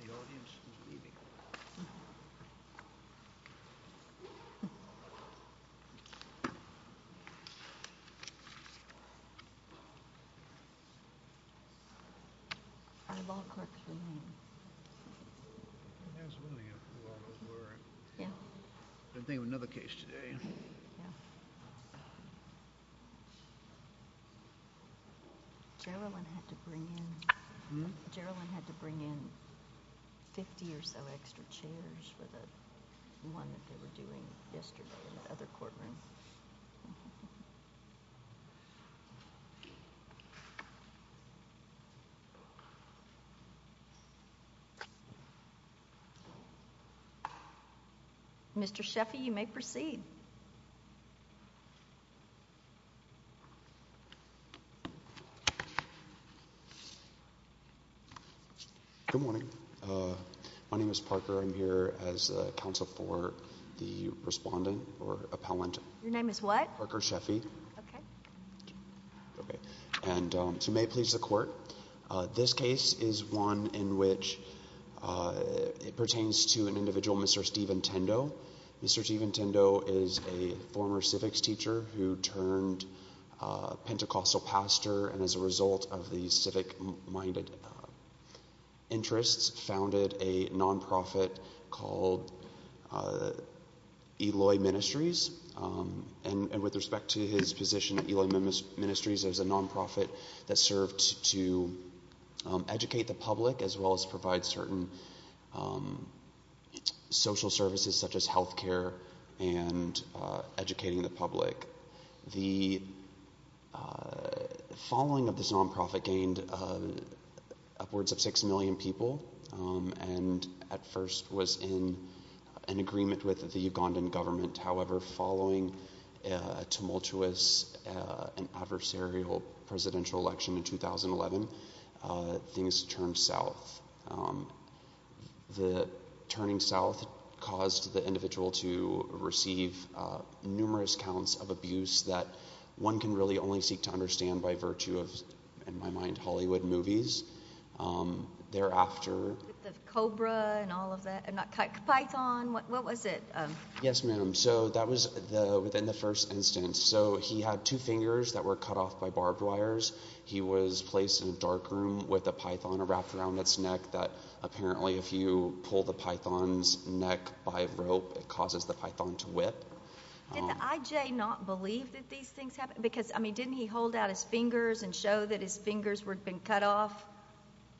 The audience is leaving. Our law clerks remain. I was wondering if a lot of them were. Yeah. I've been thinking of another case today. Yeah. Geraldine had to bring in 50 or so extra chairs for the one that they were doing yesterday in the other courtroom. Mr. Sheffy, you may proceed. Good morning. My name is Parker. I'm here as counsel for the respondent or appellant. Your name is what? Parker Sheffy. Okay. Okay. And so may it please the court, this case is one in which it pertains to an individual, Mr. Stephen Tendo. Mr. Stephen Tendo is a former civics teacher who turned Pentecostal pastor, and as a result of the civic-minded interests, founded a nonprofit called Eloy Ministries. And with respect to his position at Eloy Ministries, it was a nonprofit that served to educate the public as well as provide certain social services such as health care and educating the public. The following of this nonprofit gained upwards of 6 million people, and at first was in an agreement with the Ugandan government. However, following a tumultuous and adversarial presidential election in 2011, things turned south. The turning south caused the individual to receive numerous counts of abuse that one can really only seek to understand by virtue of, in my mind, Hollywood movies. Thereafter... The Cobra and all of that, and that python, what was it? Yes, ma'am. So that was within the first instance. So he had two fingers that were cut off by barbed wires. He was placed in a dark room with a python wrapped around its neck that apparently if you pull the python's neck by a rope, it causes the python to whip. Did the IJ not believe that these things happened? Because, I mean, didn't he hold out his fingers and show that his fingers had been cut off?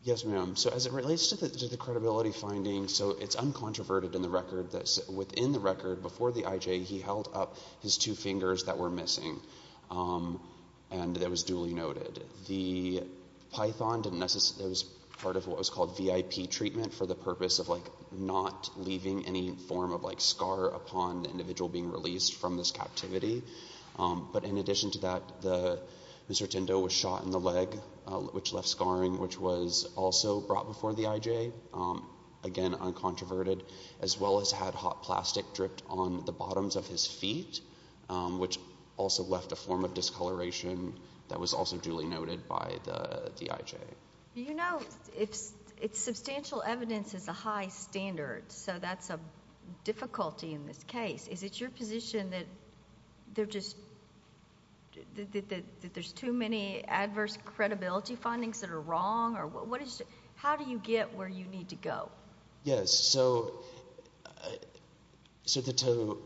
Yes, ma'am. So as it relates to the credibility findings, so it's uncontroverted in the record that within the record, before the IJ, he held up his two fingers that were missing. And that was duly noted. The python was part of what was called VIP treatment for the purpose of not leaving any form of scar upon the individual being released from this captivity. But in addition to that, Mr. Tindo was shot in the leg, which left scarring, which was also brought before the IJ. Again, uncontroverted, as well as had hot plastic dripped on the bottoms of his feet, which also left a form of discoloration that was also duly noted by the IJ. You know, it's substantial evidence is a high standard, so that's a difficulty in this case. Is it your position that there's too many adverse credibility findings that are wrong? How do you get where you need to go? Yes, so substantial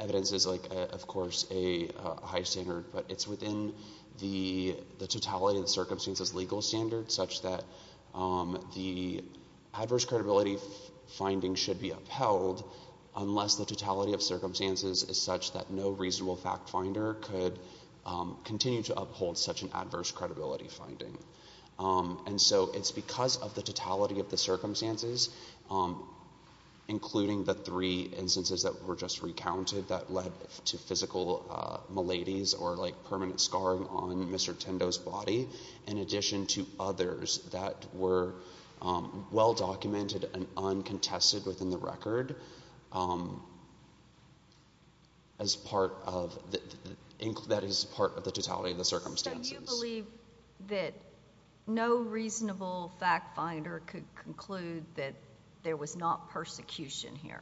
evidence is, of course, a high standard, but it's within the totality of the circumstances legal standard such that the adverse credibility finding should be upheld unless the totality of circumstances is such that no reasonable fact finder could continue to uphold such an adverse credibility finding. And so it's because of the totality of the circumstances, including the three instances that were just recounted that led to physical maladies or permanent scarring on Mr. Tindo's body, in addition to others that were well documented and uncontested within the record, that is part of the totality of the circumstances. So you believe that no reasonable fact finder could conclude that there was not persecution here?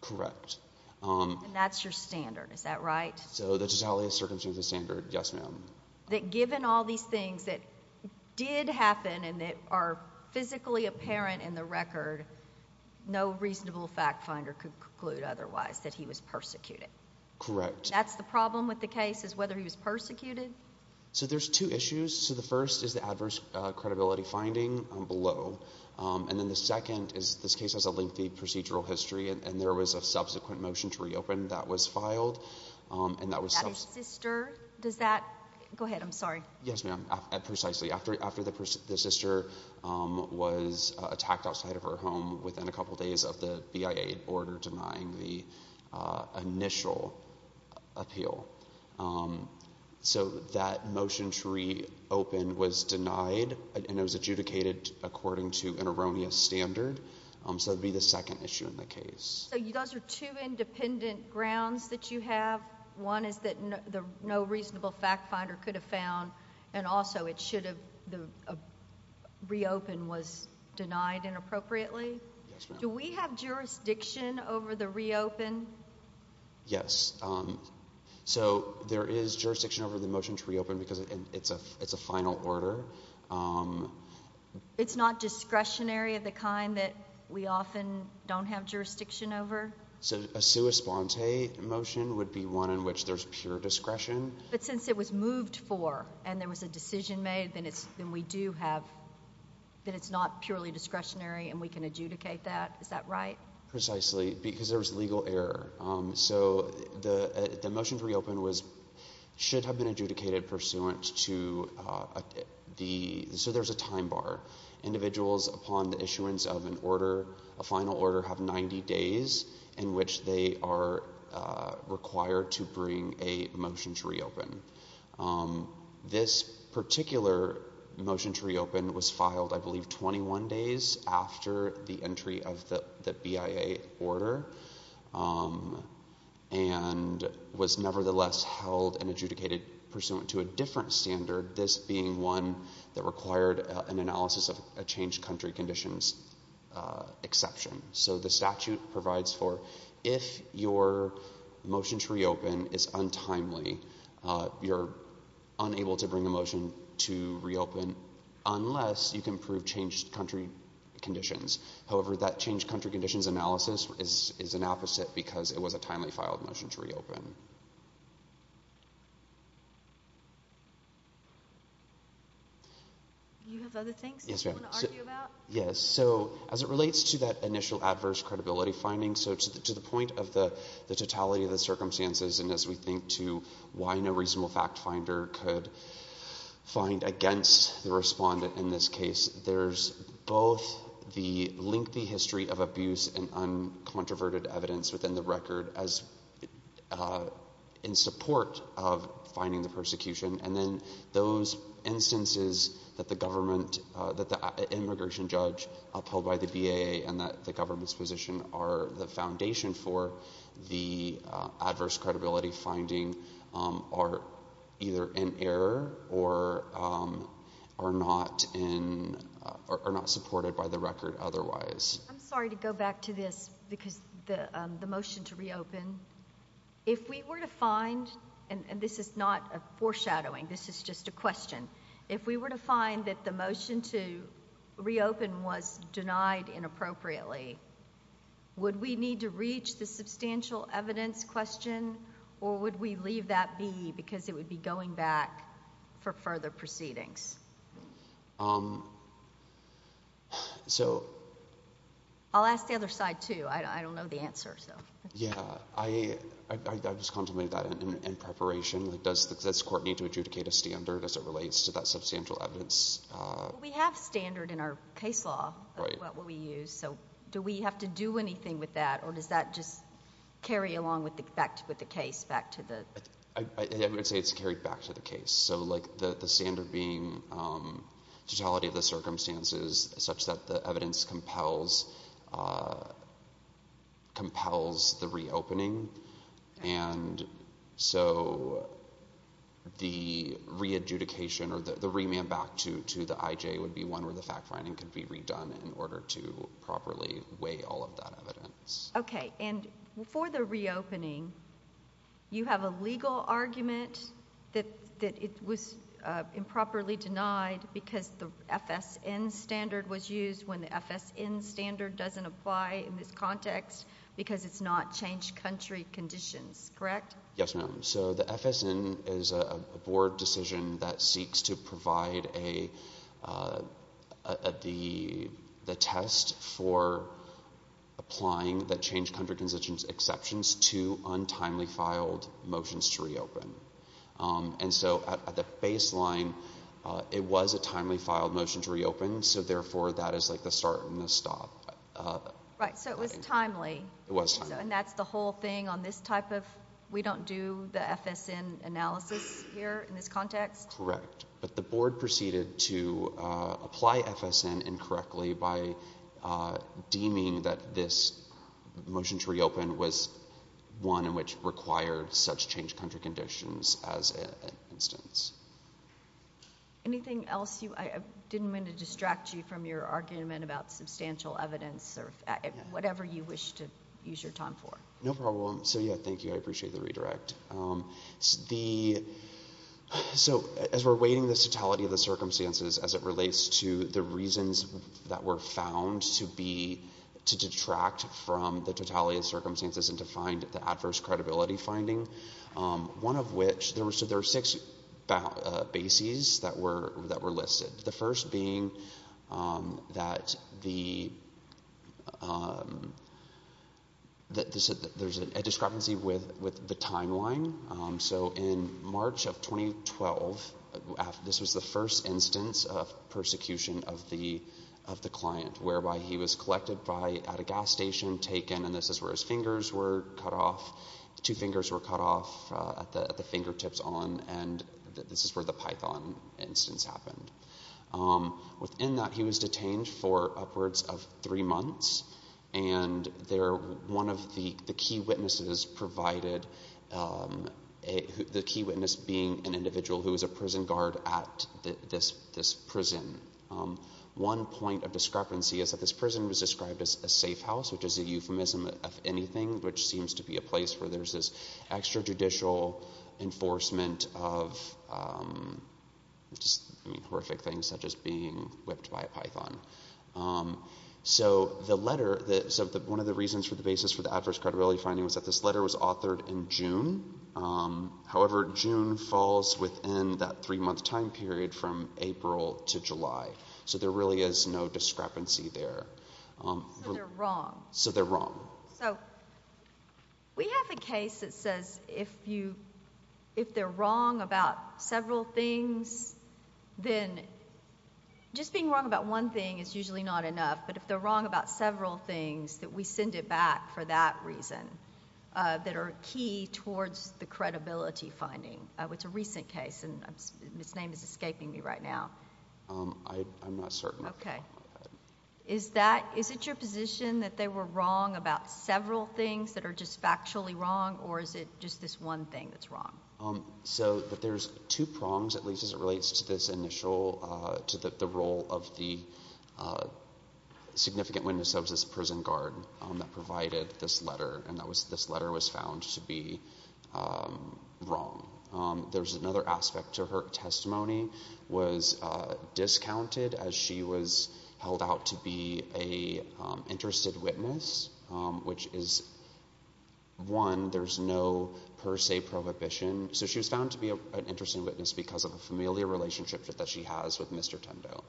Correct. And that's your standard, is that right? So the totality of circumstances standard, yes, ma'am. That given all these things that did happen and that are physically apparent in the record, no reasonable fact finder could conclude otherwise, that he was persecuted? Correct. That's the problem with the case, is whether he was persecuted? So there's two issues. So the first is the adverse credibility finding below. And then the second is this case has a lengthy procedural history, and there was a subsequent motion to reopen that was filed. That his sister? I'm sorry. Yes, ma'am. After the sister was attacked outside of her home within a couple days of the BIA order denying the initial appeal. So that motion to reopen was denied, and it was adjudicated according to an erroneous standard. So it would be the second issue in the case. So you guys are two independent grounds that you have. One is that no reasonable fact finder could have found, and also it should have, the reopen was denied inappropriately? Yes, ma'am. Do we have jurisdiction over the reopen? Yes. So there is jurisdiction over the motion to reopen because it's a final order. It's not discretionary of the kind that we often don't have jurisdiction over? So a sua sponte motion would be one in which there's pure discretion. But since it was moved for and there was a decision made, then we do have, then it's not purely discretionary and we can adjudicate that. Is that right? Precisely, because there was legal error. So the motion to reopen should have been adjudicated pursuant to the, so there's a time bar. Individuals upon the issuance of an order, a final order, have 90 days in which they are required to bring a motion to reopen. This particular motion to reopen was filed, I believe, 21 days after the entry of the BIA order, and was nevertheless held and adjudicated pursuant to a different standard, this being one that required an analysis of a changed country conditions exception. So the statute provides for if your motion to reopen is untimely, you're unable to bring a motion to reopen unless you can prove changed country conditions. However, that changed country conditions analysis is an opposite because it was a timely filed motion to reopen. Do you have other things that you want to argue about? Yes. So as it relates to that initial adverse credibility finding, so to the point of the totality of the circumstances and as we think to why no reasonable fact finder could find against the respondent in this case, there's both the lengthy history of abuse and uncontroverted evidence within the record in support of finding the persecution, and then those instances that the immigration judge upheld by the BIA and that the government's position are the foundation for the adverse credibility finding are either in error or not supported by the record otherwise. I'm sorry to go back to this because the motion to reopen, if we were to find, and this is not a foreshadowing, this is just a question, if we were to find that the motion to reopen was denied inappropriately, would we need to reach the substantial evidence question or would we leave that be because it would be going back for further proceedings? I'll ask the other side too. I don't know the answer. Yeah. I just contemplated that in preparation. Does the court need to adjudicate a standard as it relates to that substantial evidence? We have standard in our case law of what we use, so do we have to do anything with that or does that just carry along with the case back to the? I would say it's carried back to the case. So the standard being totality of the circumstances such that the evidence compels the reopening and so the re-adjudication or the remand back to the IJ would be one where the fact-finding could be redone in order to properly weigh all of that evidence. Okay. And for the reopening, you have a legal argument that it was improperly denied because the FSN standard was used when the FSN standard doesn't apply in this context because it's not changed country conditions, correct? Yes, ma'am. So the FSN is a board decision that seeks to provide the test for applying the changed country conditions exceptions to untimely filed motions to reopen. And so at the baseline, it was a timely filed motion to reopen, so therefore that is like the start and the stop. Right. So it was timely. It was timely. And that's the whole thing on this type of we don't do the FSN analysis here in this context? Correct. But the board proceeded to apply FSN incorrectly by deeming that this motion to reopen was one in which required such changed country conditions as an instance. Anything else? I didn't mean to distract you from your argument about substantial evidence or whatever you wish to use your time for. No problem. So, yeah, thank you. I appreciate the redirect. So as we're weighting this totality of the circumstances as it relates to the reasons that were found to be to detract from the totality of circumstances and to find the adverse credibility finding, one of which there were six bases that were listed. The first being that there's a discrepancy with the timeline. So in March of 2012, this was the first instance of persecution of the client, whereby he was collected at a gas station, taken, and this is where his fingers were cut off. The fingertips on, and this is where the Python instance happened. Within that, he was detained for upwards of three months, and one of the key witnesses being an individual who was a prison guard at this prison. One point of discrepancy is that this prison was described as a safe house, which is a euphemism of anything, which seems to be a place where there's this extrajudicial enforcement of horrific things, such as being whipped by a Python. So one of the reasons for the basis for the adverse credibility finding was that this letter was authored in June. However, June falls within that three-month time period from April to July. So there really is no discrepancy there. So they're wrong. So they're wrong. So we have a case that says if they're wrong about several things, then just being wrong about one thing is usually not enough, but if they're wrong about several things, that we send it back for that reason that are key towards the credibility finding. It's a recent case, and its name is escaping me right now. I'm not certain. Okay. Is it your position that they were wrong about several things that are just factually wrong, or is it just this one thing that's wrong? So there's two prongs, at least as it relates to this initial, to the role of the significant witness of this prison guard that provided this letter, and this letter was found to be wrong. There's another aspect to her. Her testimony was discounted as she was held out to be an interested witness, which is, one, there's no per se prohibition. So she was found to be an interesting witness because of a familiar relationship that she has with Mr. Tendo.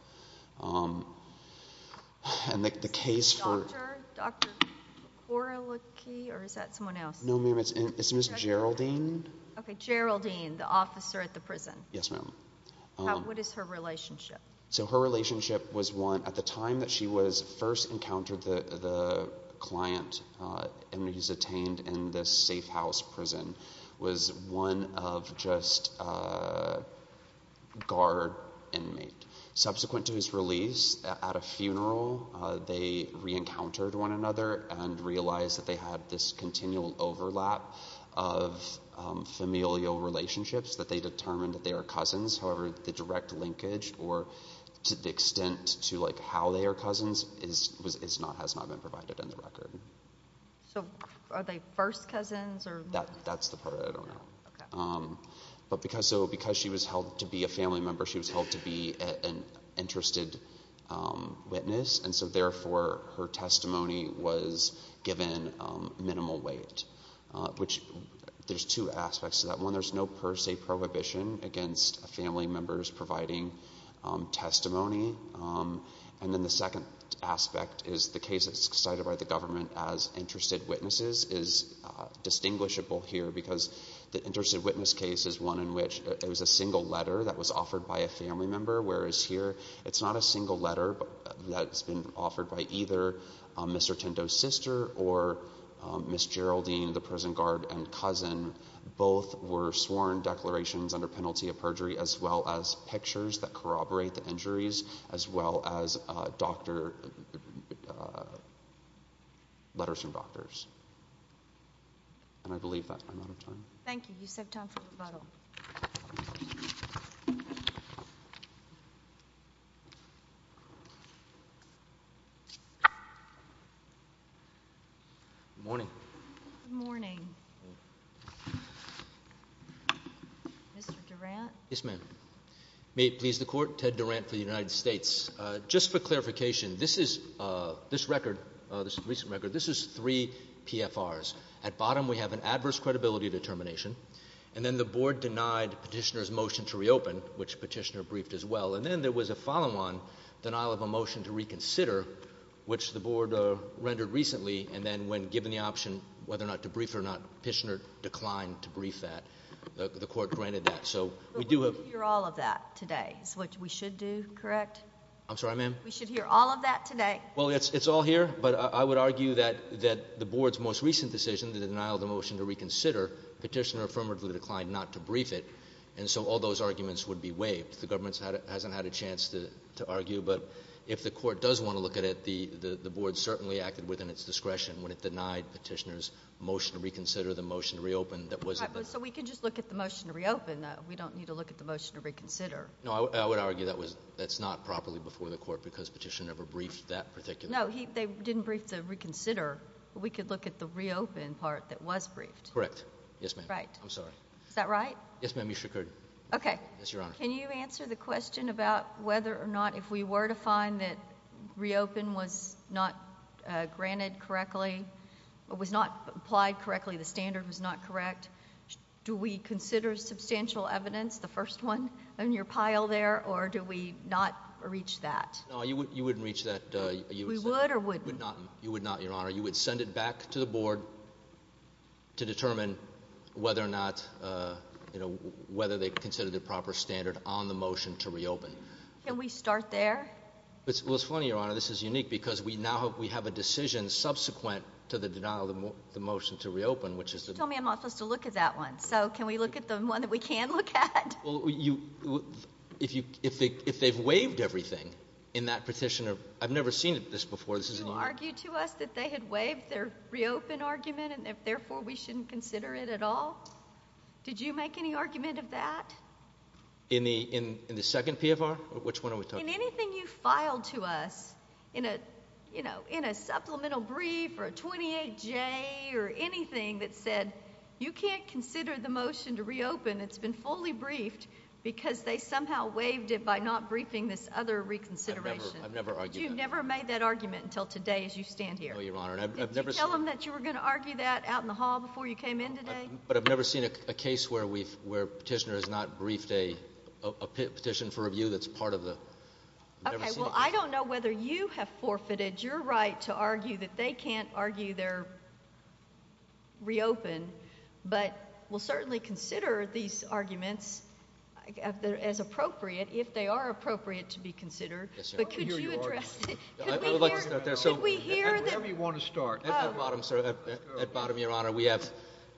And the case for ‑‑ Dr. Korolecki, or is that someone else? No, ma'am, it's Ms. Geraldine. Okay, Geraldine, the officer at the prison. Yes, ma'am. What is her relationship? So her relationship was, one, at the time that she was first encountered, the client he's attained in this safe house prison was one of just guard inmate. Subsequent to his release at a funeral, they reencountered one another and realized that they had this continual overlap of familial relationships, that they determined that they are cousins. However, the direct linkage or the extent to, like, how they are cousins has not been provided in the record. So are they first cousins? That's the part I don't know. But because she was held to be a family member, she was held to be an interested witness, and so therefore her testimony was given minimal weight, which there's two aspects to that. One, there's no per se prohibition against family members providing testimony. And then the second aspect is the case that's cited by the government as interested witnesses is distinguishable here because the interested witness case is one in which it was a single letter that was offered by a family member, whereas here it's not a single letter that's been offered by either Mr. Tinto's sister or Ms. Geraldine, the prison guard and cousin. Both were sworn declarations under penalty of perjury as well as pictures that corroborate the injuries as well as letters from doctors. And I believe that. I'm out of time. Thank you. You still have time for rebuttal. Good morning. Good morning. Mr. Durant. Yes, ma'am. May it please the Court, Ted Durant for the United States. Just for clarification, this record, this recent record, this is three PFRs. At bottom we have an adverse credibility determination. And then the Board denied Petitioner's motion to reopen, which Petitioner briefed as well. And then there was a following one, denial of a motion to reconsider, which the Board rendered recently. And then when given the option whether or not to brief it or not, Petitioner declined to brief that. The Court granted that. But we're going to hear all of that today is what we should do, correct? I'm sorry, ma'am? We should hear all of that today? Well, it's all here. But I would argue that the Board's most recent decision, the denial of the motion to reconsider, Petitioner affirmatively declined not to brief it. And so all those arguments would be waived. The government hasn't had a chance to argue. But if the Court does want to look at it, the Board certainly acted within its discretion when it denied Petitioner's motion to reconsider the motion to reopen. So we can just look at the motion to reopen, though. We don't need to look at the motion to reconsider. No, I would argue that's not properly before the Court because Petitioner never briefed that particular motion. No, they didn't brief the reconsider. We could look at the reopen part that was briefed. Correct. Yes, ma'am. Right. I'm sorry. Is that right? Yes, ma'am, you should. Okay. Yes, Your Honor. Can you answer the question about whether or not if we were to find that reopen was not granted correctly or was not applied correctly, the standard was not correct, do we consider substantial evidence, the first one in your pile there, or do we not reach that? No, you wouldn't reach that. We would or wouldn't? You would not, Your Honor. You would send it back to the Board to determine whether or not, you know, whether they consider the proper standard on the motion to reopen. Can we start there? Well, it's funny, Your Honor. This is unique because we now have a decision subsequent to the denial of the motion to reopen, which is the – You told me I'm not supposed to look at that one, so can we look at the one that we can look at? If they've waived everything in that petition, I've never seen this before. You argued to us that they had waived their reopen argument and therefore we shouldn't consider it at all. Did you make any argument of that? In the second PFR? Which one are we talking about? In anything you filed to us, you know, in a supplemental brief or a 28J or anything that said, you can't consider the motion to reopen. It's been fully briefed because they somehow waived it by not briefing this other reconsideration. I've never argued that. But you've never made that argument until today as you stand here. No, Your Honor. Did you tell them that you were going to argue that out in the hall before you came in today? But I've never seen a case where petitioner has not briefed a petition for review that's part of the – Okay. Well, I don't know whether you have forfeited your right to argue that they can't argue their reopen, but we'll certainly consider these arguments as appropriate if they are appropriate to be considered. Yes, Your Honor. But could you address – I would like to start there. Should we hear the – Wherever you want to start. At the bottom, sir. At the bottom, Your Honor. We have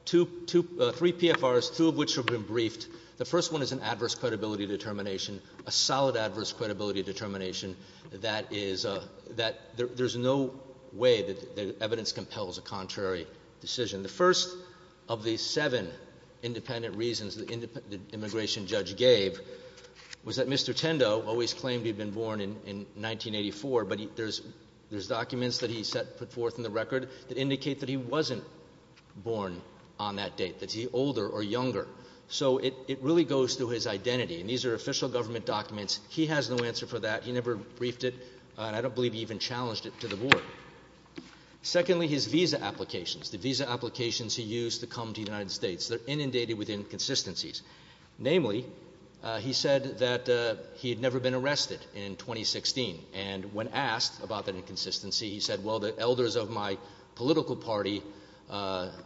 three PFRs, two of which have been briefed. The first one is an adverse credibility determination, a solid adverse credibility determination that is – that there's no way that evidence compels a contrary decision. The first of the seven independent reasons the immigration judge gave was that Mr. Tendo always claimed he had been born in 1984, but there's documents that he put forth in the record that indicate that he wasn't born on that date, that he's older or younger. So it really goes to his identity, and these are official government documents. He has no answer for that. He never briefed it, and I don't believe he even challenged it to the board. Secondly, his visa applications, the visa applications he used to come to the United States, they're inundated with inconsistencies. Namely, he said that he had never been arrested in 2016, and when asked about that inconsistency, he said, well, the elders of my political party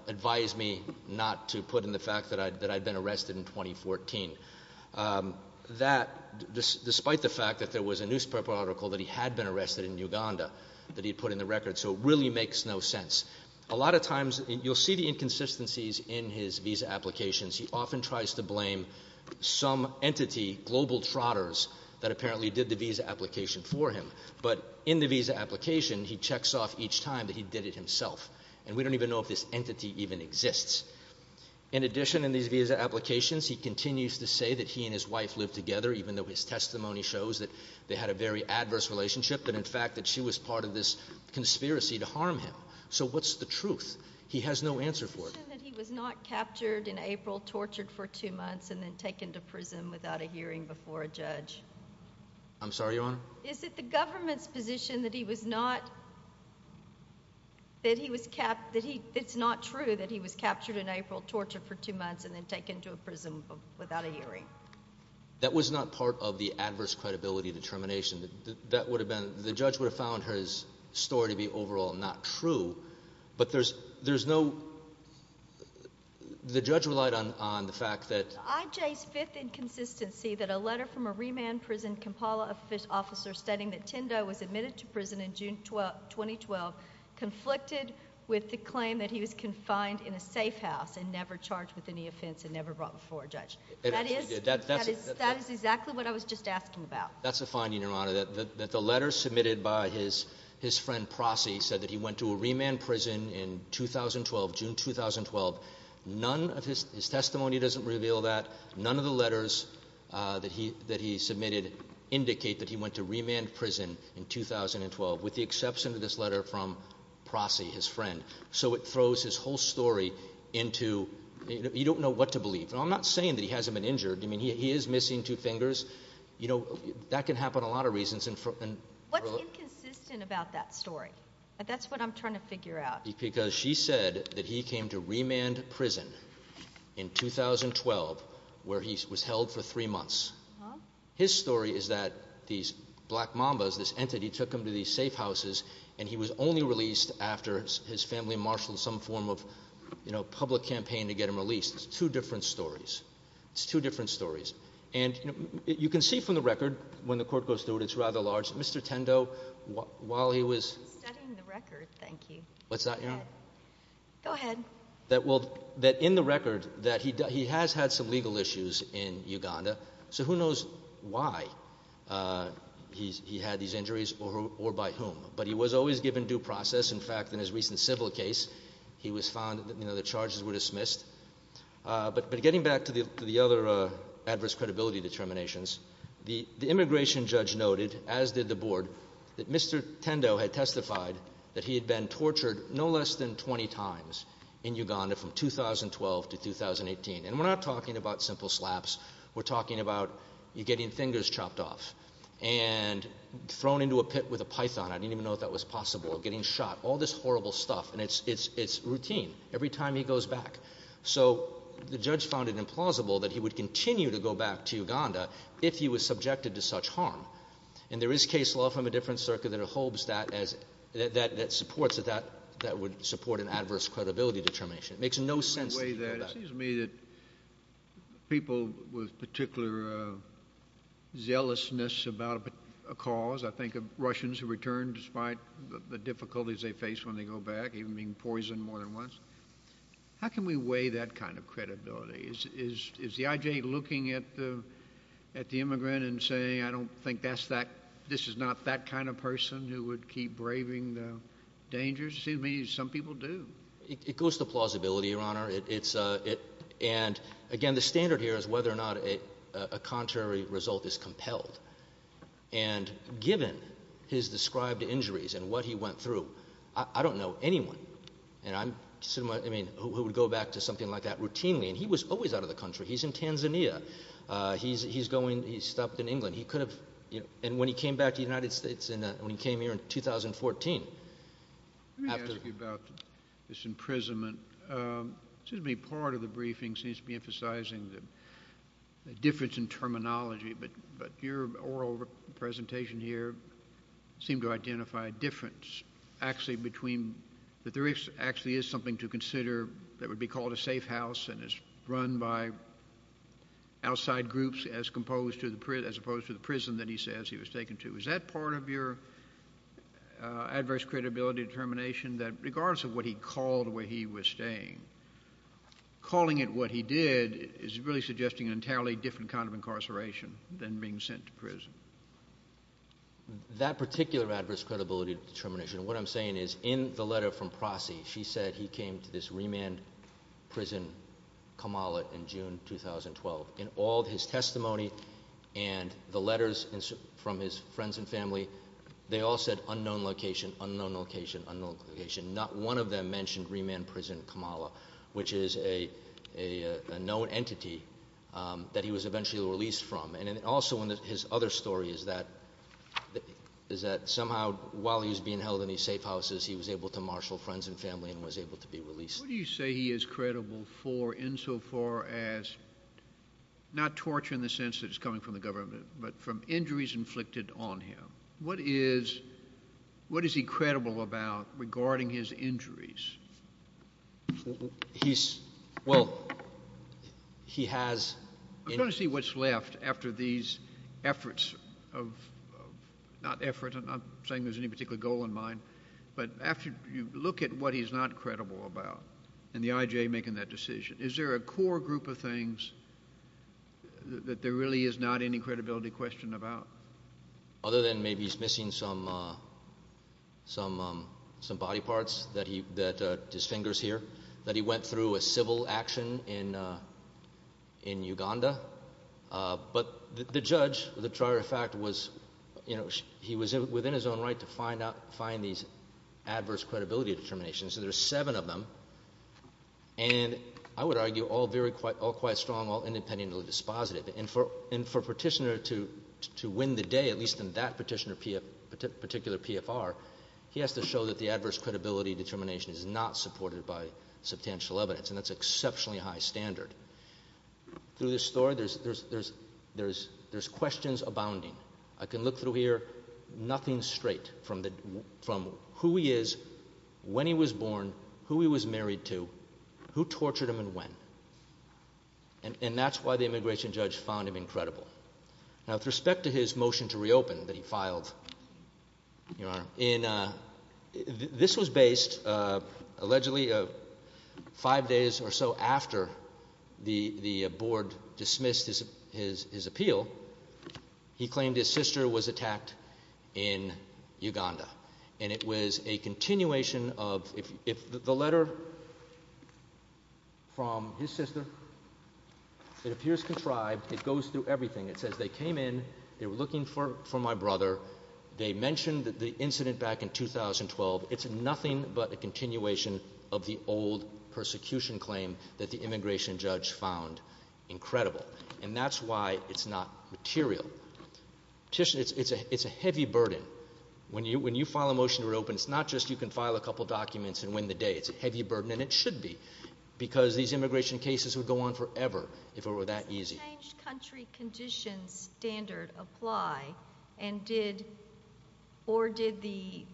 advised me not to put in the fact that I'd been arrested in 2014. That, despite the fact that there was a newspaper article that he had been arrested in Uganda that he'd put in the record, so it really makes no sense. A lot of times – you'll see the inconsistencies in his visa applications. He often tries to blame some entity, global trotters, that apparently did the visa application for him, but in the visa application, he checks off each time that he did it himself, and we don't even know if this entity even exists. In addition, in these visa applications, he continues to say that he and his wife lived together, even though his testimony shows that they had a very adverse relationship, but in fact that she was part of this conspiracy to harm him. So what's the truth? He has no answer for it. He said that he was not captured in April, tortured for two months, and then taken to prison without a hearing before a judge. I'm sorry, Your Honor? Is it the government's position that he was not – that it's not true that he was captured in April, tortured for two months, and then taken to a prison without a hearing? That was not part of the adverse credibility determination. That would have been – the judge would have found his story to be overall not true, but there's no – the judge relied on the fact that – IJ's fifth inconsistency that a letter from a remand prison Kampala officer stating that Tindo was admitted to prison in June 2012 conflicted with the claim that he was confined in a safe house and never charged with any offense and never brought before a judge. That is exactly what I was just asking about. That's a finding, Your Honor, that the letter submitted by his friend Prossy said that he went to a remand prison in 2012, June 2012. None of his testimony doesn't reveal that. None of the letters that he submitted indicate that he went to remand prison in 2012, with the exception of this letter from Prossy, his friend. So it throws his whole story into – you don't know what to believe. And I'm not saying that he hasn't been injured. I mean, he is missing two fingers. You know, that can happen a lot of reasons. What's inconsistent about that story? That's what I'm trying to figure out. Because she said that he came to remand prison in 2012 where he was held for three months. His story is that these Black Mambas, this entity, took him to these safe houses and he was only released after his family marshaled some form of, you know, public campaign to get him released. It's two different stories. It's two different stories. And you can see from the record when the court goes through it, it's rather large. Mr. Tindo, while he was— Go ahead. That in the record that he has had some legal issues in Uganda, so who knows why he had these injuries or by whom. But he was always given due process. In fact, in his recent civil case, he was found, you know, the charges were dismissed. But getting back to the other adverse credibility determinations, the immigration judge noted, as did the board, that Mr. Tindo had testified that he had been tortured no less than 20 times in Uganda from 2012 to 2018. And we're not talking about simple slaps. We're talking about you getting fingers chopped off and thrown into a pit with a python. I didn't even know if that was possible, getting shot, all this horrible stuff. And it's routine every time he goes back. So the judge found it implausible that he would continue to go back to Uganda if he was subjected to such harm. And there is case law from a different circuit that holds that as— that supports that that would support an adverse credibility determination. It makes no sense to go back. It seems to me that people with particular zealousness about a cause, I think of Russians who return despite the difficulties they face when they go back, even being poisoned more than once, how can we weigh that kind of credibility? Is the I.J. looking at the immigrant and saying, I don't think this is not that kind of person who would keep braving the dangers? It seems to me some people do. It goes to plausibility, Your Honor. And, again, the standard here is whether or not a contrary result is compelled. And given his described injuries and what he went through, I don't know anyone, I mean, who would go back to something like that routinely. And he was always out of the country. He's in Tanzania. He's going—he stopped in England. He could have—and when he came back to the United States, when he came here in 2014, after— Let me ask you about this imprisonment. It seems to me part of the briefing seems to be emphasizing the difference in terminology, but your oral presentation here seemed to identify a difference actually between— this actually is something to consider that would be called a safe house and is run by outside groups as opposed to the prison that he says he was taken to. Is that part of your adverse credibility determination, that regardless of what he called where he was staying, calling it what he did is really suggesting an entirely different kind of incarceration than being sent to prison? That particular adverse credibility determination, what I'm saying is in the letter from Prossy, she said he came to this remand prison, Kamala, in June 2012. In all his testimony and the letters from his friends and family, they all said unknown location, unknown location, unknown location. Not one of them mentioned remand prison Kamala, which is a known entity that he was eventually released from. And also in his other story is that somehow while he was being held in these safe houses, he was able to marshal friends and family and was able to be released. What do you say he is credible for insofar as not torture in the sense that it's coming from the government, but from injuries inflicted on him? What is he credible about regarding his injuries? He's—well, he has— I just want to see what's left after these efforts of—not effort. I'm not saying there's any particular goal in mind. But after you look at what he's not credible about and the IJA making that decision, is there a core group of things that there really is not any credibility question about? Other than maybe he's missing some body parts that his fingers hear, that he went through a civil action in Uganda. But the judge, the trier of fact, was—he was within his own right to find these adverse credibility determinations. There are seven of them, and I would argue all very—all quite strong, all independently dispositive. And for a petitioner to win the day, at least in that petitioner particular PFR, he has to show that the adverse credibility determination is not supported by substantial evidence, and that's exceptionally high standard. Through this story, there's questions abounding. I can look through here, nothing straight from who he is, when he was born, who he was married to, who tortured him and when. And that's why the immigration judge found him incredible. Now, with respect to his motion to reopen that he filed, Your Honor, this was based allegedly five days or so after the board dismissed his appeal. He claimed his sister was attacked in Uganda. And it was a continuation of—the letter from his sister, it appears contrived. It goes through everything. It says they came in, they were looking for my brother. They mentioned the incident back in 2012. It's nothing but a continuation of the old persecution claim that the immigration judge found incredible. And that's why it's not material. Petitioners—it's a heavy burden. When you file a motion to reopen, it's not just you can file a couple documents and win the day. It's a heavy burden, and it should be, because these immigration cases would go on forever if it were that easy. Did the changed country conditions standard apply, and did—or did the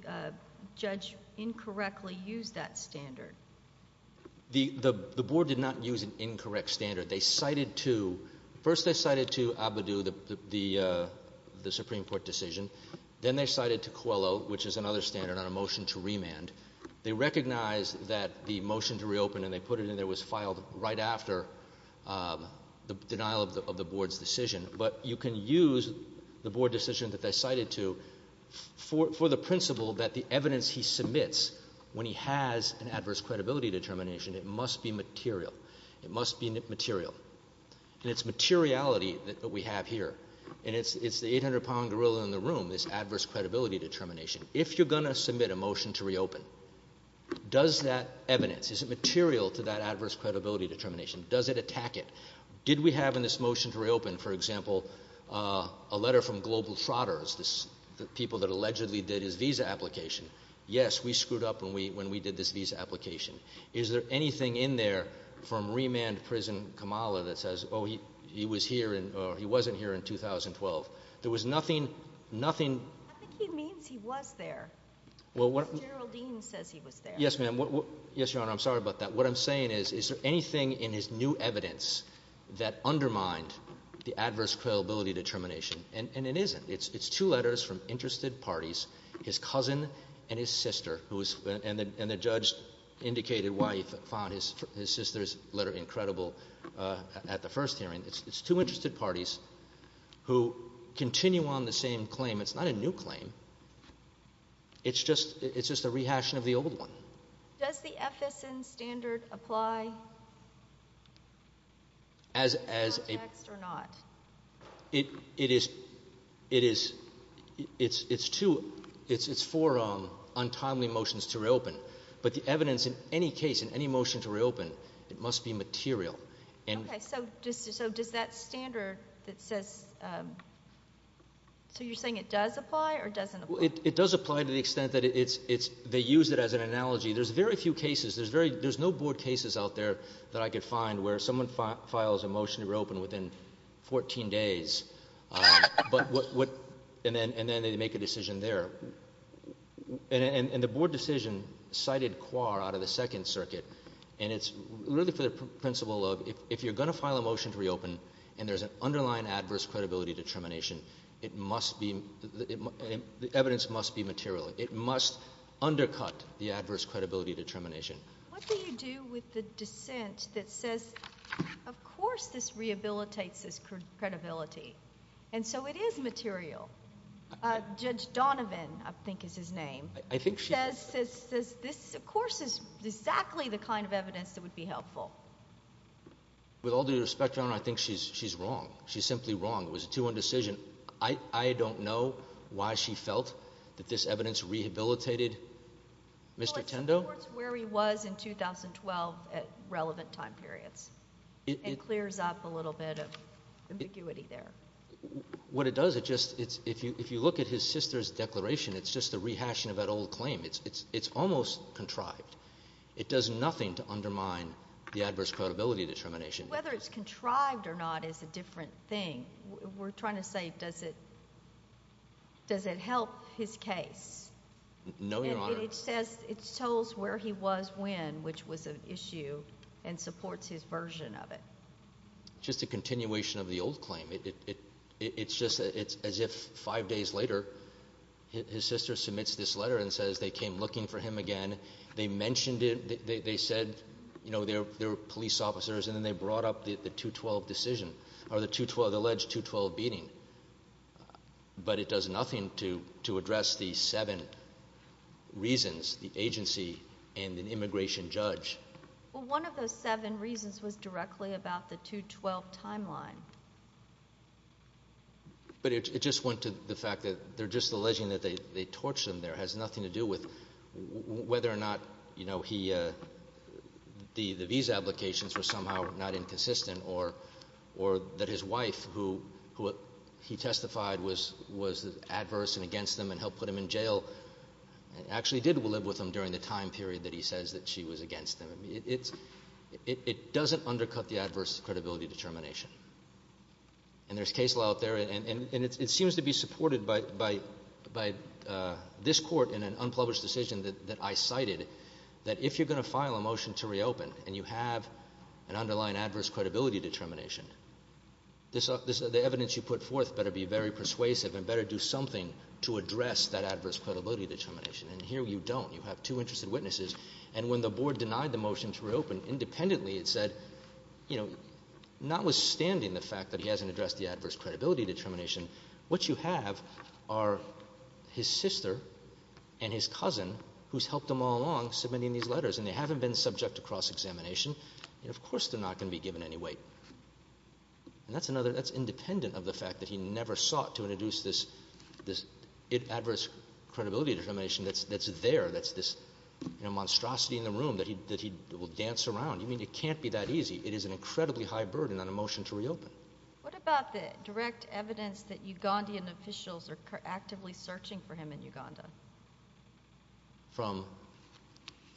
judge incorrectly use that standard? The board did not use an incorrect standard. They cited to—first they cited to Abidu the Supreme Court decision. Then they cited to Coelho, which is another standard on a motion to remand. They recognized that the motion to reopen, and they put it in there, was filed right after the denial of the board's decision. But you can use the board decision that they cited to for the principle that the evidence he submits when he has an adverse credibility determination, it must be material. It must be material. And it's materiality that we have here, and it's the 800-pound gorilla in the room, this adverse credibility determination. If you're going to submit a motion to reopen, does that evidence, is it material to that adverse credibility determination? Does it attack it? Did we have in this motion to reopen, for example, a letter from global trotters, the people that allegedly did his visa application? Yes, we screwed up when we did this visa application. Is there anything in there from remand prison Kamala that says, oh, he was here in—or he wasn't here in 2012? There was nothing, nothing— I think he means he was there. General Dean says he was there. Yes, ma'am. Yes, Your Honor, I'm sorry about that. What I'm saying is, is there anything in his new evidence that undermined the adverse credibility determination? And it isn't. It's two letters from interested parties, his cousin and his sister, and the judge indicated why he found his sister's letter incredible at the first hearing. It's two interested parties who continue on the same claim. It's not a new claim. It's just a rehashing of the old one. Does the FSN standard apply in this context or not? It is—it's for untimely motions to reopen. But the evidence in any case, in any motion to reopen, it must be material. Okay, so does that standard that says—so you're saying it does apply or doesn't apply? It does apply to the extent that it's—they use it as an analogy. There's very few cases. There's very—there's no board cases out there that I could find where someone files a motion to reopen within 14 days, and then they make a decision there. And the board decision cited Quar out of the Second Circuit, and it's really for the principle of if you're going to file a motion to reopen and there's an underlying adverse credibility determination, it must be—the evidence must be material. It must undercut the adverse credibility determination. What do you do with the dissent that says, of course this rehabilitates this credibility, and so it is material? Judge Donovan, I think is his name, says this, of course, is exactly the kind of evidence that would be helpful. With all due respect, Your Honor, I think she's wrong. She's simply wrong. It was a 2-1 decision. I don't know why she felt that this evidence rehabilitated Mr. Tendo. Well, it supports where he was in 2012 at relevant time periods. It clears up a little bit of ambiguity there. What it does, it just—if you look at his sister's declaration, it's just a rehashing of that old claim. It's almost contrived. It does nothing to undermine the adverse credibility determination. Whether it's contrived or not is a different thing. We're trying to say does it help his case. No, Your Honor. And it says—it tells where he was when, which was an issue, and supports his version of it. It's just a continuation of the old claim. It's just as if five days later his sister submits this letter and says they came looking for him again. They mentioned it. They said they were police officers, and then they brought up the 2-12 decision or the alleged 2-12 beating. But it does nothing to address the seven reasons, the agency and an immigration judge. Well, one of those seven reasons was directly about the 2-12 timeline. But it just went to the fact that they're just alleging that they torched him there. It has nothing to do with whether or not he—the visa applications were somehow not inconsistent or that his wife, who he testified was adverse and against him and helped put him in jail, actually did live with him during the time period that he says that she was against him. It doesn't undercut the adverse credibility determination. And there's case law out there, and it seems to be supported by this Court in an unpublished decision that I cited, that if you're going to file a motion to reopen and you have an underlying adverse credibility determination, the evidence you put forth better be very persuasive and better do something to address that adverse credibility determination. And here you don't. You have two interested witnesses. And when the Board denied the motion to reopen, independently it said, you know, notwithstanding the fact that he hasn't addressed the adverse credibility determination, what you have are his sister and his cousin who's helped him all along submitting these letters, and they haven't been subject to cross-examination, and of course they're not going to be given any weight. And that's independent of the fact that he never sought to introduce this adverse credibility determination that's there, that's this monstrosity in the room that he will dance around. I mean, it can't be that easy. It is an incredibly high burden on a motion to reopen. What about the direct evidence that Ugandan officials are actively searching for him in Uganda? From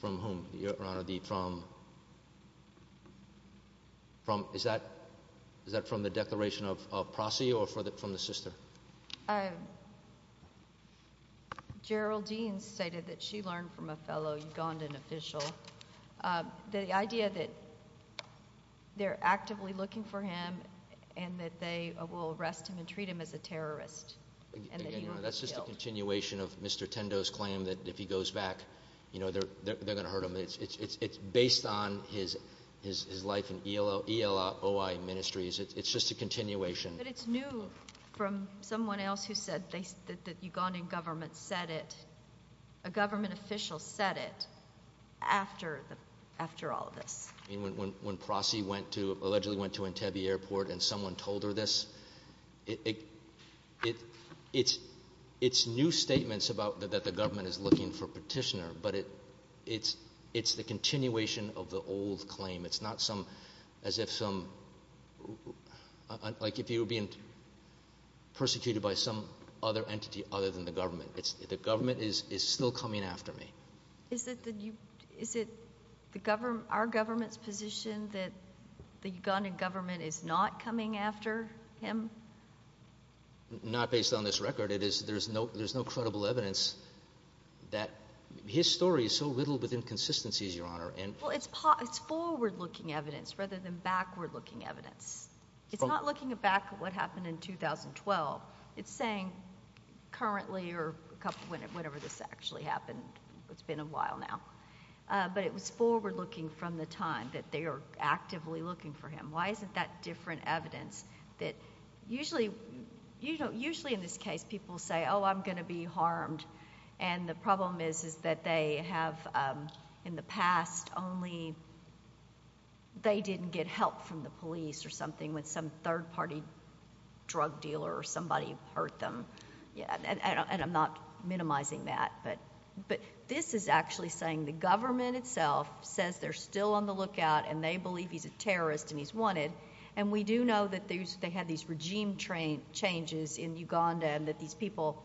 whom, Your Honor? Is that from the declaration of prosecution or from the sister? Geraldine stated that she learned from a fellow Ugandan official the idea that they're actively looking for him and that they will arrest him and treat him as a terrorist. That's just a continuation of Mr. Tendo's claim that if he goes back, you know, they're going to hurt him. It's based on his life in ELOI ministries. It's just a continuation. But it's new from someone else who said that the Ugandan government said it. A government official said it after all of this. I mean, when Prossi allegedly went to Entebbe Airport and someone told her this, it's new statements that the government is looking for Petitioner, but it's the continuation of the old claim. It's not as if you're being persecuted by some other entity other than the government. The government is still coming after me. Is it our government's position that the Ugandan government is not coming after him? Not based on this record. There's no credible evidence that his story is so riddled with inconsistencies, Your Honor. Well, it's forward-looking evidence rather than backward-looking evidence. It's not looking back at what happened in 2012. It's saying currently or whenever this actually happened. It's been a while now. But it was forward-looking from the time that they are actively looking for him. Why isn't that different evidence that usually in this case people say, oh, I'm going to be harmed, and the problem is that they have in the past only they didn't get help from the police or something when some third-party drug dealer or somebody hurt them. And I'm not minimizing that. But this is actually saying the government itself says they're still on the lookout and they believe he's a terrorist and he's wanted. And we do know that they had these regime changes in Uganda and that these people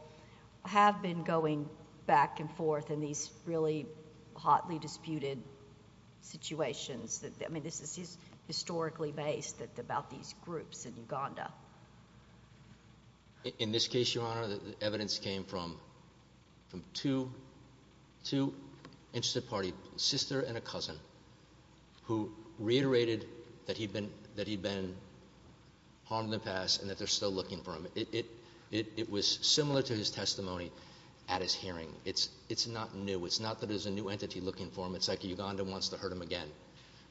have been going back and forth in these really hotly disputed situations. I mean, this is historically based about these groups in Uganda. In this case, Your Honor, the evidence came from two interested parties, a sister and a cousin, who reiterated that he'd been harmed in the past and that they're still looking for him. It was similar to his testimony at his hearing. It's not new. It's not that there's a new entity looking for him. It's like Uganda wants to hurt him again,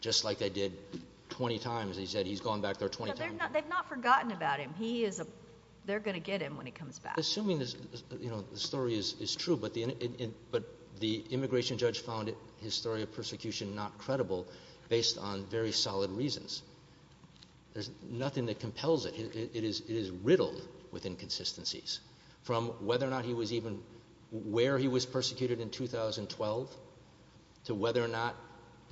just like they did 20 times. They said he's gone back there 20 times. They've not forgotten about him. They're going to get him when he comes back. Assuming the story is true, but the immigration judge found his story of persecution not credible based on very solid reasons. There's nothing that compels it. It is riddled with inconsistencies from whether or not he was even where he was persecuted in 2012 to whether or not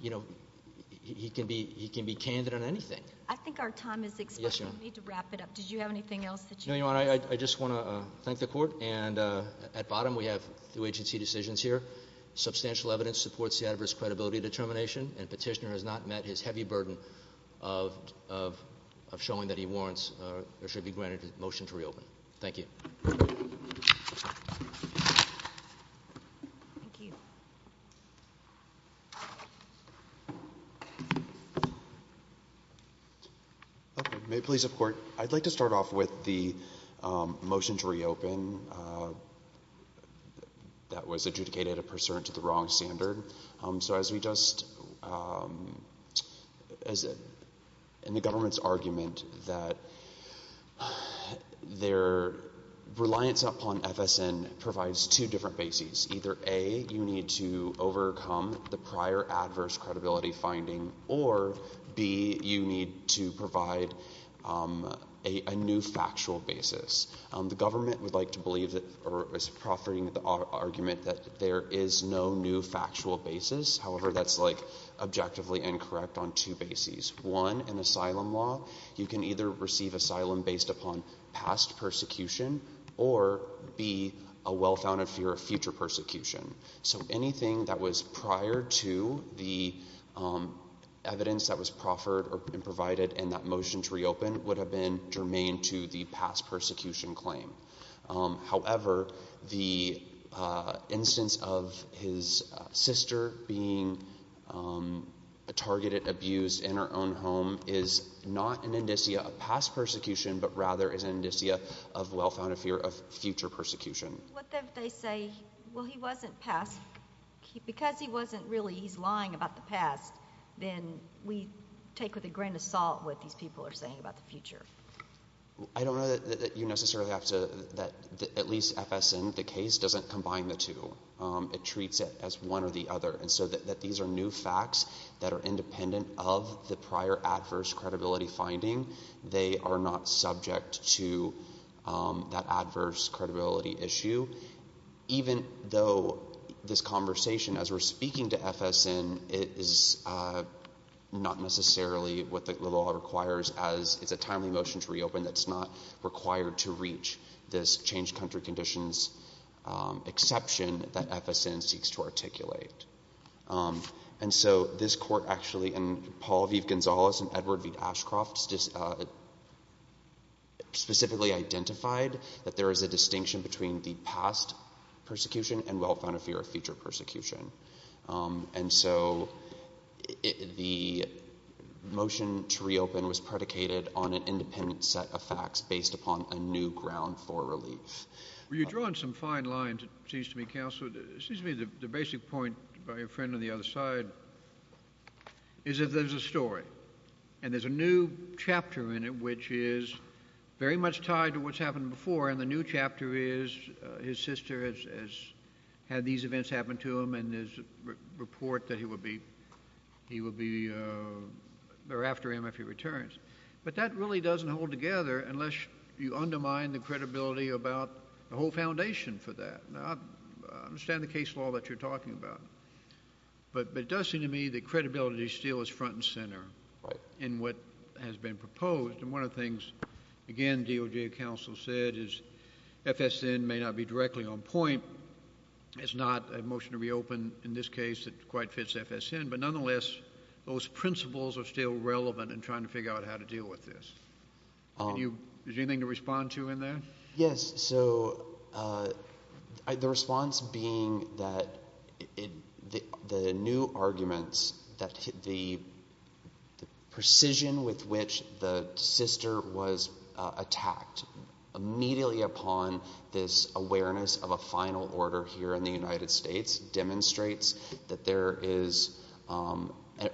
he can be candid on anything. I think our time is expiring. We need to wrap it up. Did you have anything else that you want to say? No, Your Honor. I just want to thank the court. At bottom, we have two agency decisions here. Substantial evidence supports the adverse credibility determination, and Petitioner has not met his heavy burden of showing that he warrants or should be granted a motion to reopen. Thank you. Thank you. May it please the court. I'd like to start off with the motion to reopen that was adjudicated a pursuant to the wrong standard. So as we just, in the government's argument that their reliance upon FSN provides two different bases. Either A, you need to overcome the prior adverse credibility finding, or B, you need to provide a new factual basis. The government would like to believe or is proffering the argument that there is no new factual basis. However, that's like objectively incorrect on two bases. One, in asylum law, you can either receive asylum based upon past persecution or B, a well-founded fear of future persecution. So anything that was prior to the evidence that was proffered or provided in that motion to reopen would have been germane to the past persecution claim. However, the instance of his sister being targeted, abused in her own home is not an indicia of past persecution, but rather is an indicia of well-founded fear of future persecution. What if they say, well, he wasn't past, because he wasn't really, he's lying about the past, then we take with a grain of salt what these people are saying about the future. I don't know that you necessarily have to, at least FSN, the case doesn't combine the two. It treats it as one or the other. And so that these are new facts that are independent of the prior adverse credibility finding. They are not subject to that adverse credibility issue, even though this conversation, as we're speaking to FSN, it is not necessarily what the law requires as it's a timely motion to reopen that's not required to reach this changed country conditions exception that FSN seeks to articulate. And so this court actually, and Paul V. Gonzalez and Edward V. Ashcroft specifically identified that there is a distinction between the past persecution and well-founded fear of future persecution. And so the motion to reopen was predicated on an independent set of facts based upon a new ground for relief. Well, you've drawn some fine lines, it seems to me, Counselor. It seems to me the basic point by your friend on the other side is that there's a story, and there's a new chapter in it, which is very much tied to what's happened before, and the new chapter is his sister has had these events happen to him, and there's a report that he will be, they're after him if he returns. But that really doesn't hold together unless you undermine the credibility about the whole foundation for that. Now, I understand the case law that you're talking about, but it does seem to me that credibility still is front and center in what has been proposed. And one of the things, again, DOJ counsel said is FSN may not be directly on point. It's not a motion to reopen in this case that quite fits FSN, but nonetheless, those principles are still relevant in trying to figure out how to deal with this. Is there anything to respond to in there? Yes, so the response being that the new arguments that the precision with which the sister was attacked immediately upon this awareness of a final order here in the United States demonstrates that there is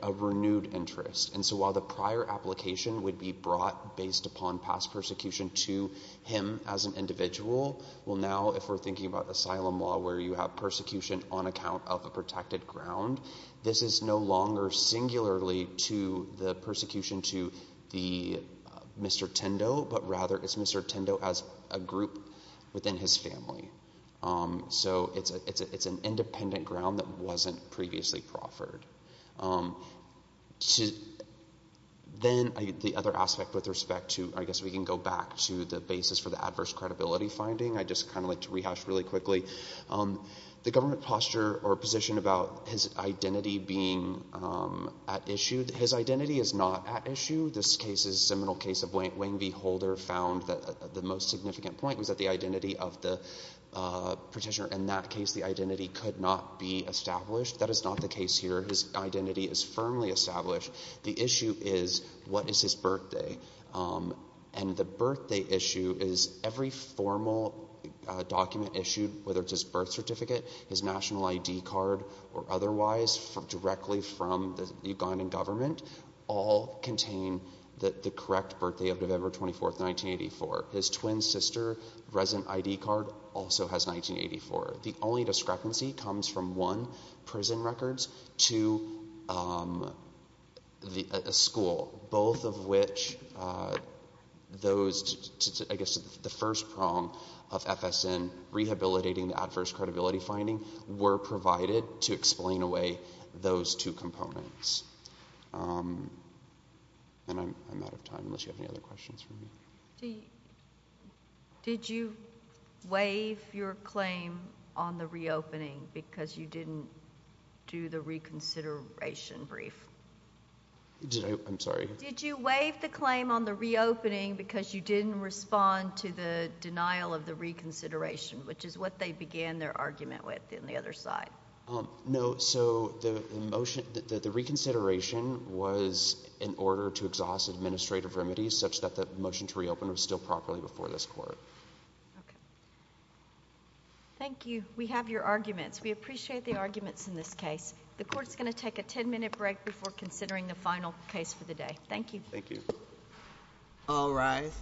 a renewed interest. And so while the prior application would be brought based upon past persecution to him as an individual, well now if we're thinking about asylum law where you have persecution on account of a protected ground, this is no longer singularly to the persecution to Mr. Tendo, but rather it's Mr. Tendo as a group within his family. So it's an independent ground that wasn't previously proffered. Then the other aspect with respect to, I guess we can go back to the basis for the adverse credibility finding. I'd just kind of like to rehash really quickly the government posture or position about his identity being at issue. His identity is not at issue. This case is a seminal case of Wayne V. Holder found that the most significant point was that the identity of the petitioner. In that case, the identity could not be established. That is not the case here. His identity is firmly established. The issue is what is his birthday. And the birthday issue is every formal document issued, whether it's his birth certificate, his national ID card, or otherwise, directly from the Ugandan government, all contain the correct birthday of November 24th, 1984. His twin sister resident ID card also has 1984. The only discrepancy comes from one, prison records, to a school, both of which those, I guess, the first prong of FSN rehabilitating the adverse credibility finding were provided to explain away those two components. And I'm out of time unless you have any other questions for me. Did you waive your claim on the reopening because you didn't do the reconsideration brief? I'm sorry. Did you waive the claim on the reopening because you didn't respond to the denial of the reconsideration, which is what they began their argument with in the other side? No. So the reconsideration was in order to exhaust administrative remedies such that the motion to reopen was still properly before this court. Okay. Thank you. We have your arguments. We appreciate the arguments in this case. The court's going to take a 10-minute break before considering the final case for the day. Thank you. Thank you. All rise. Thank you.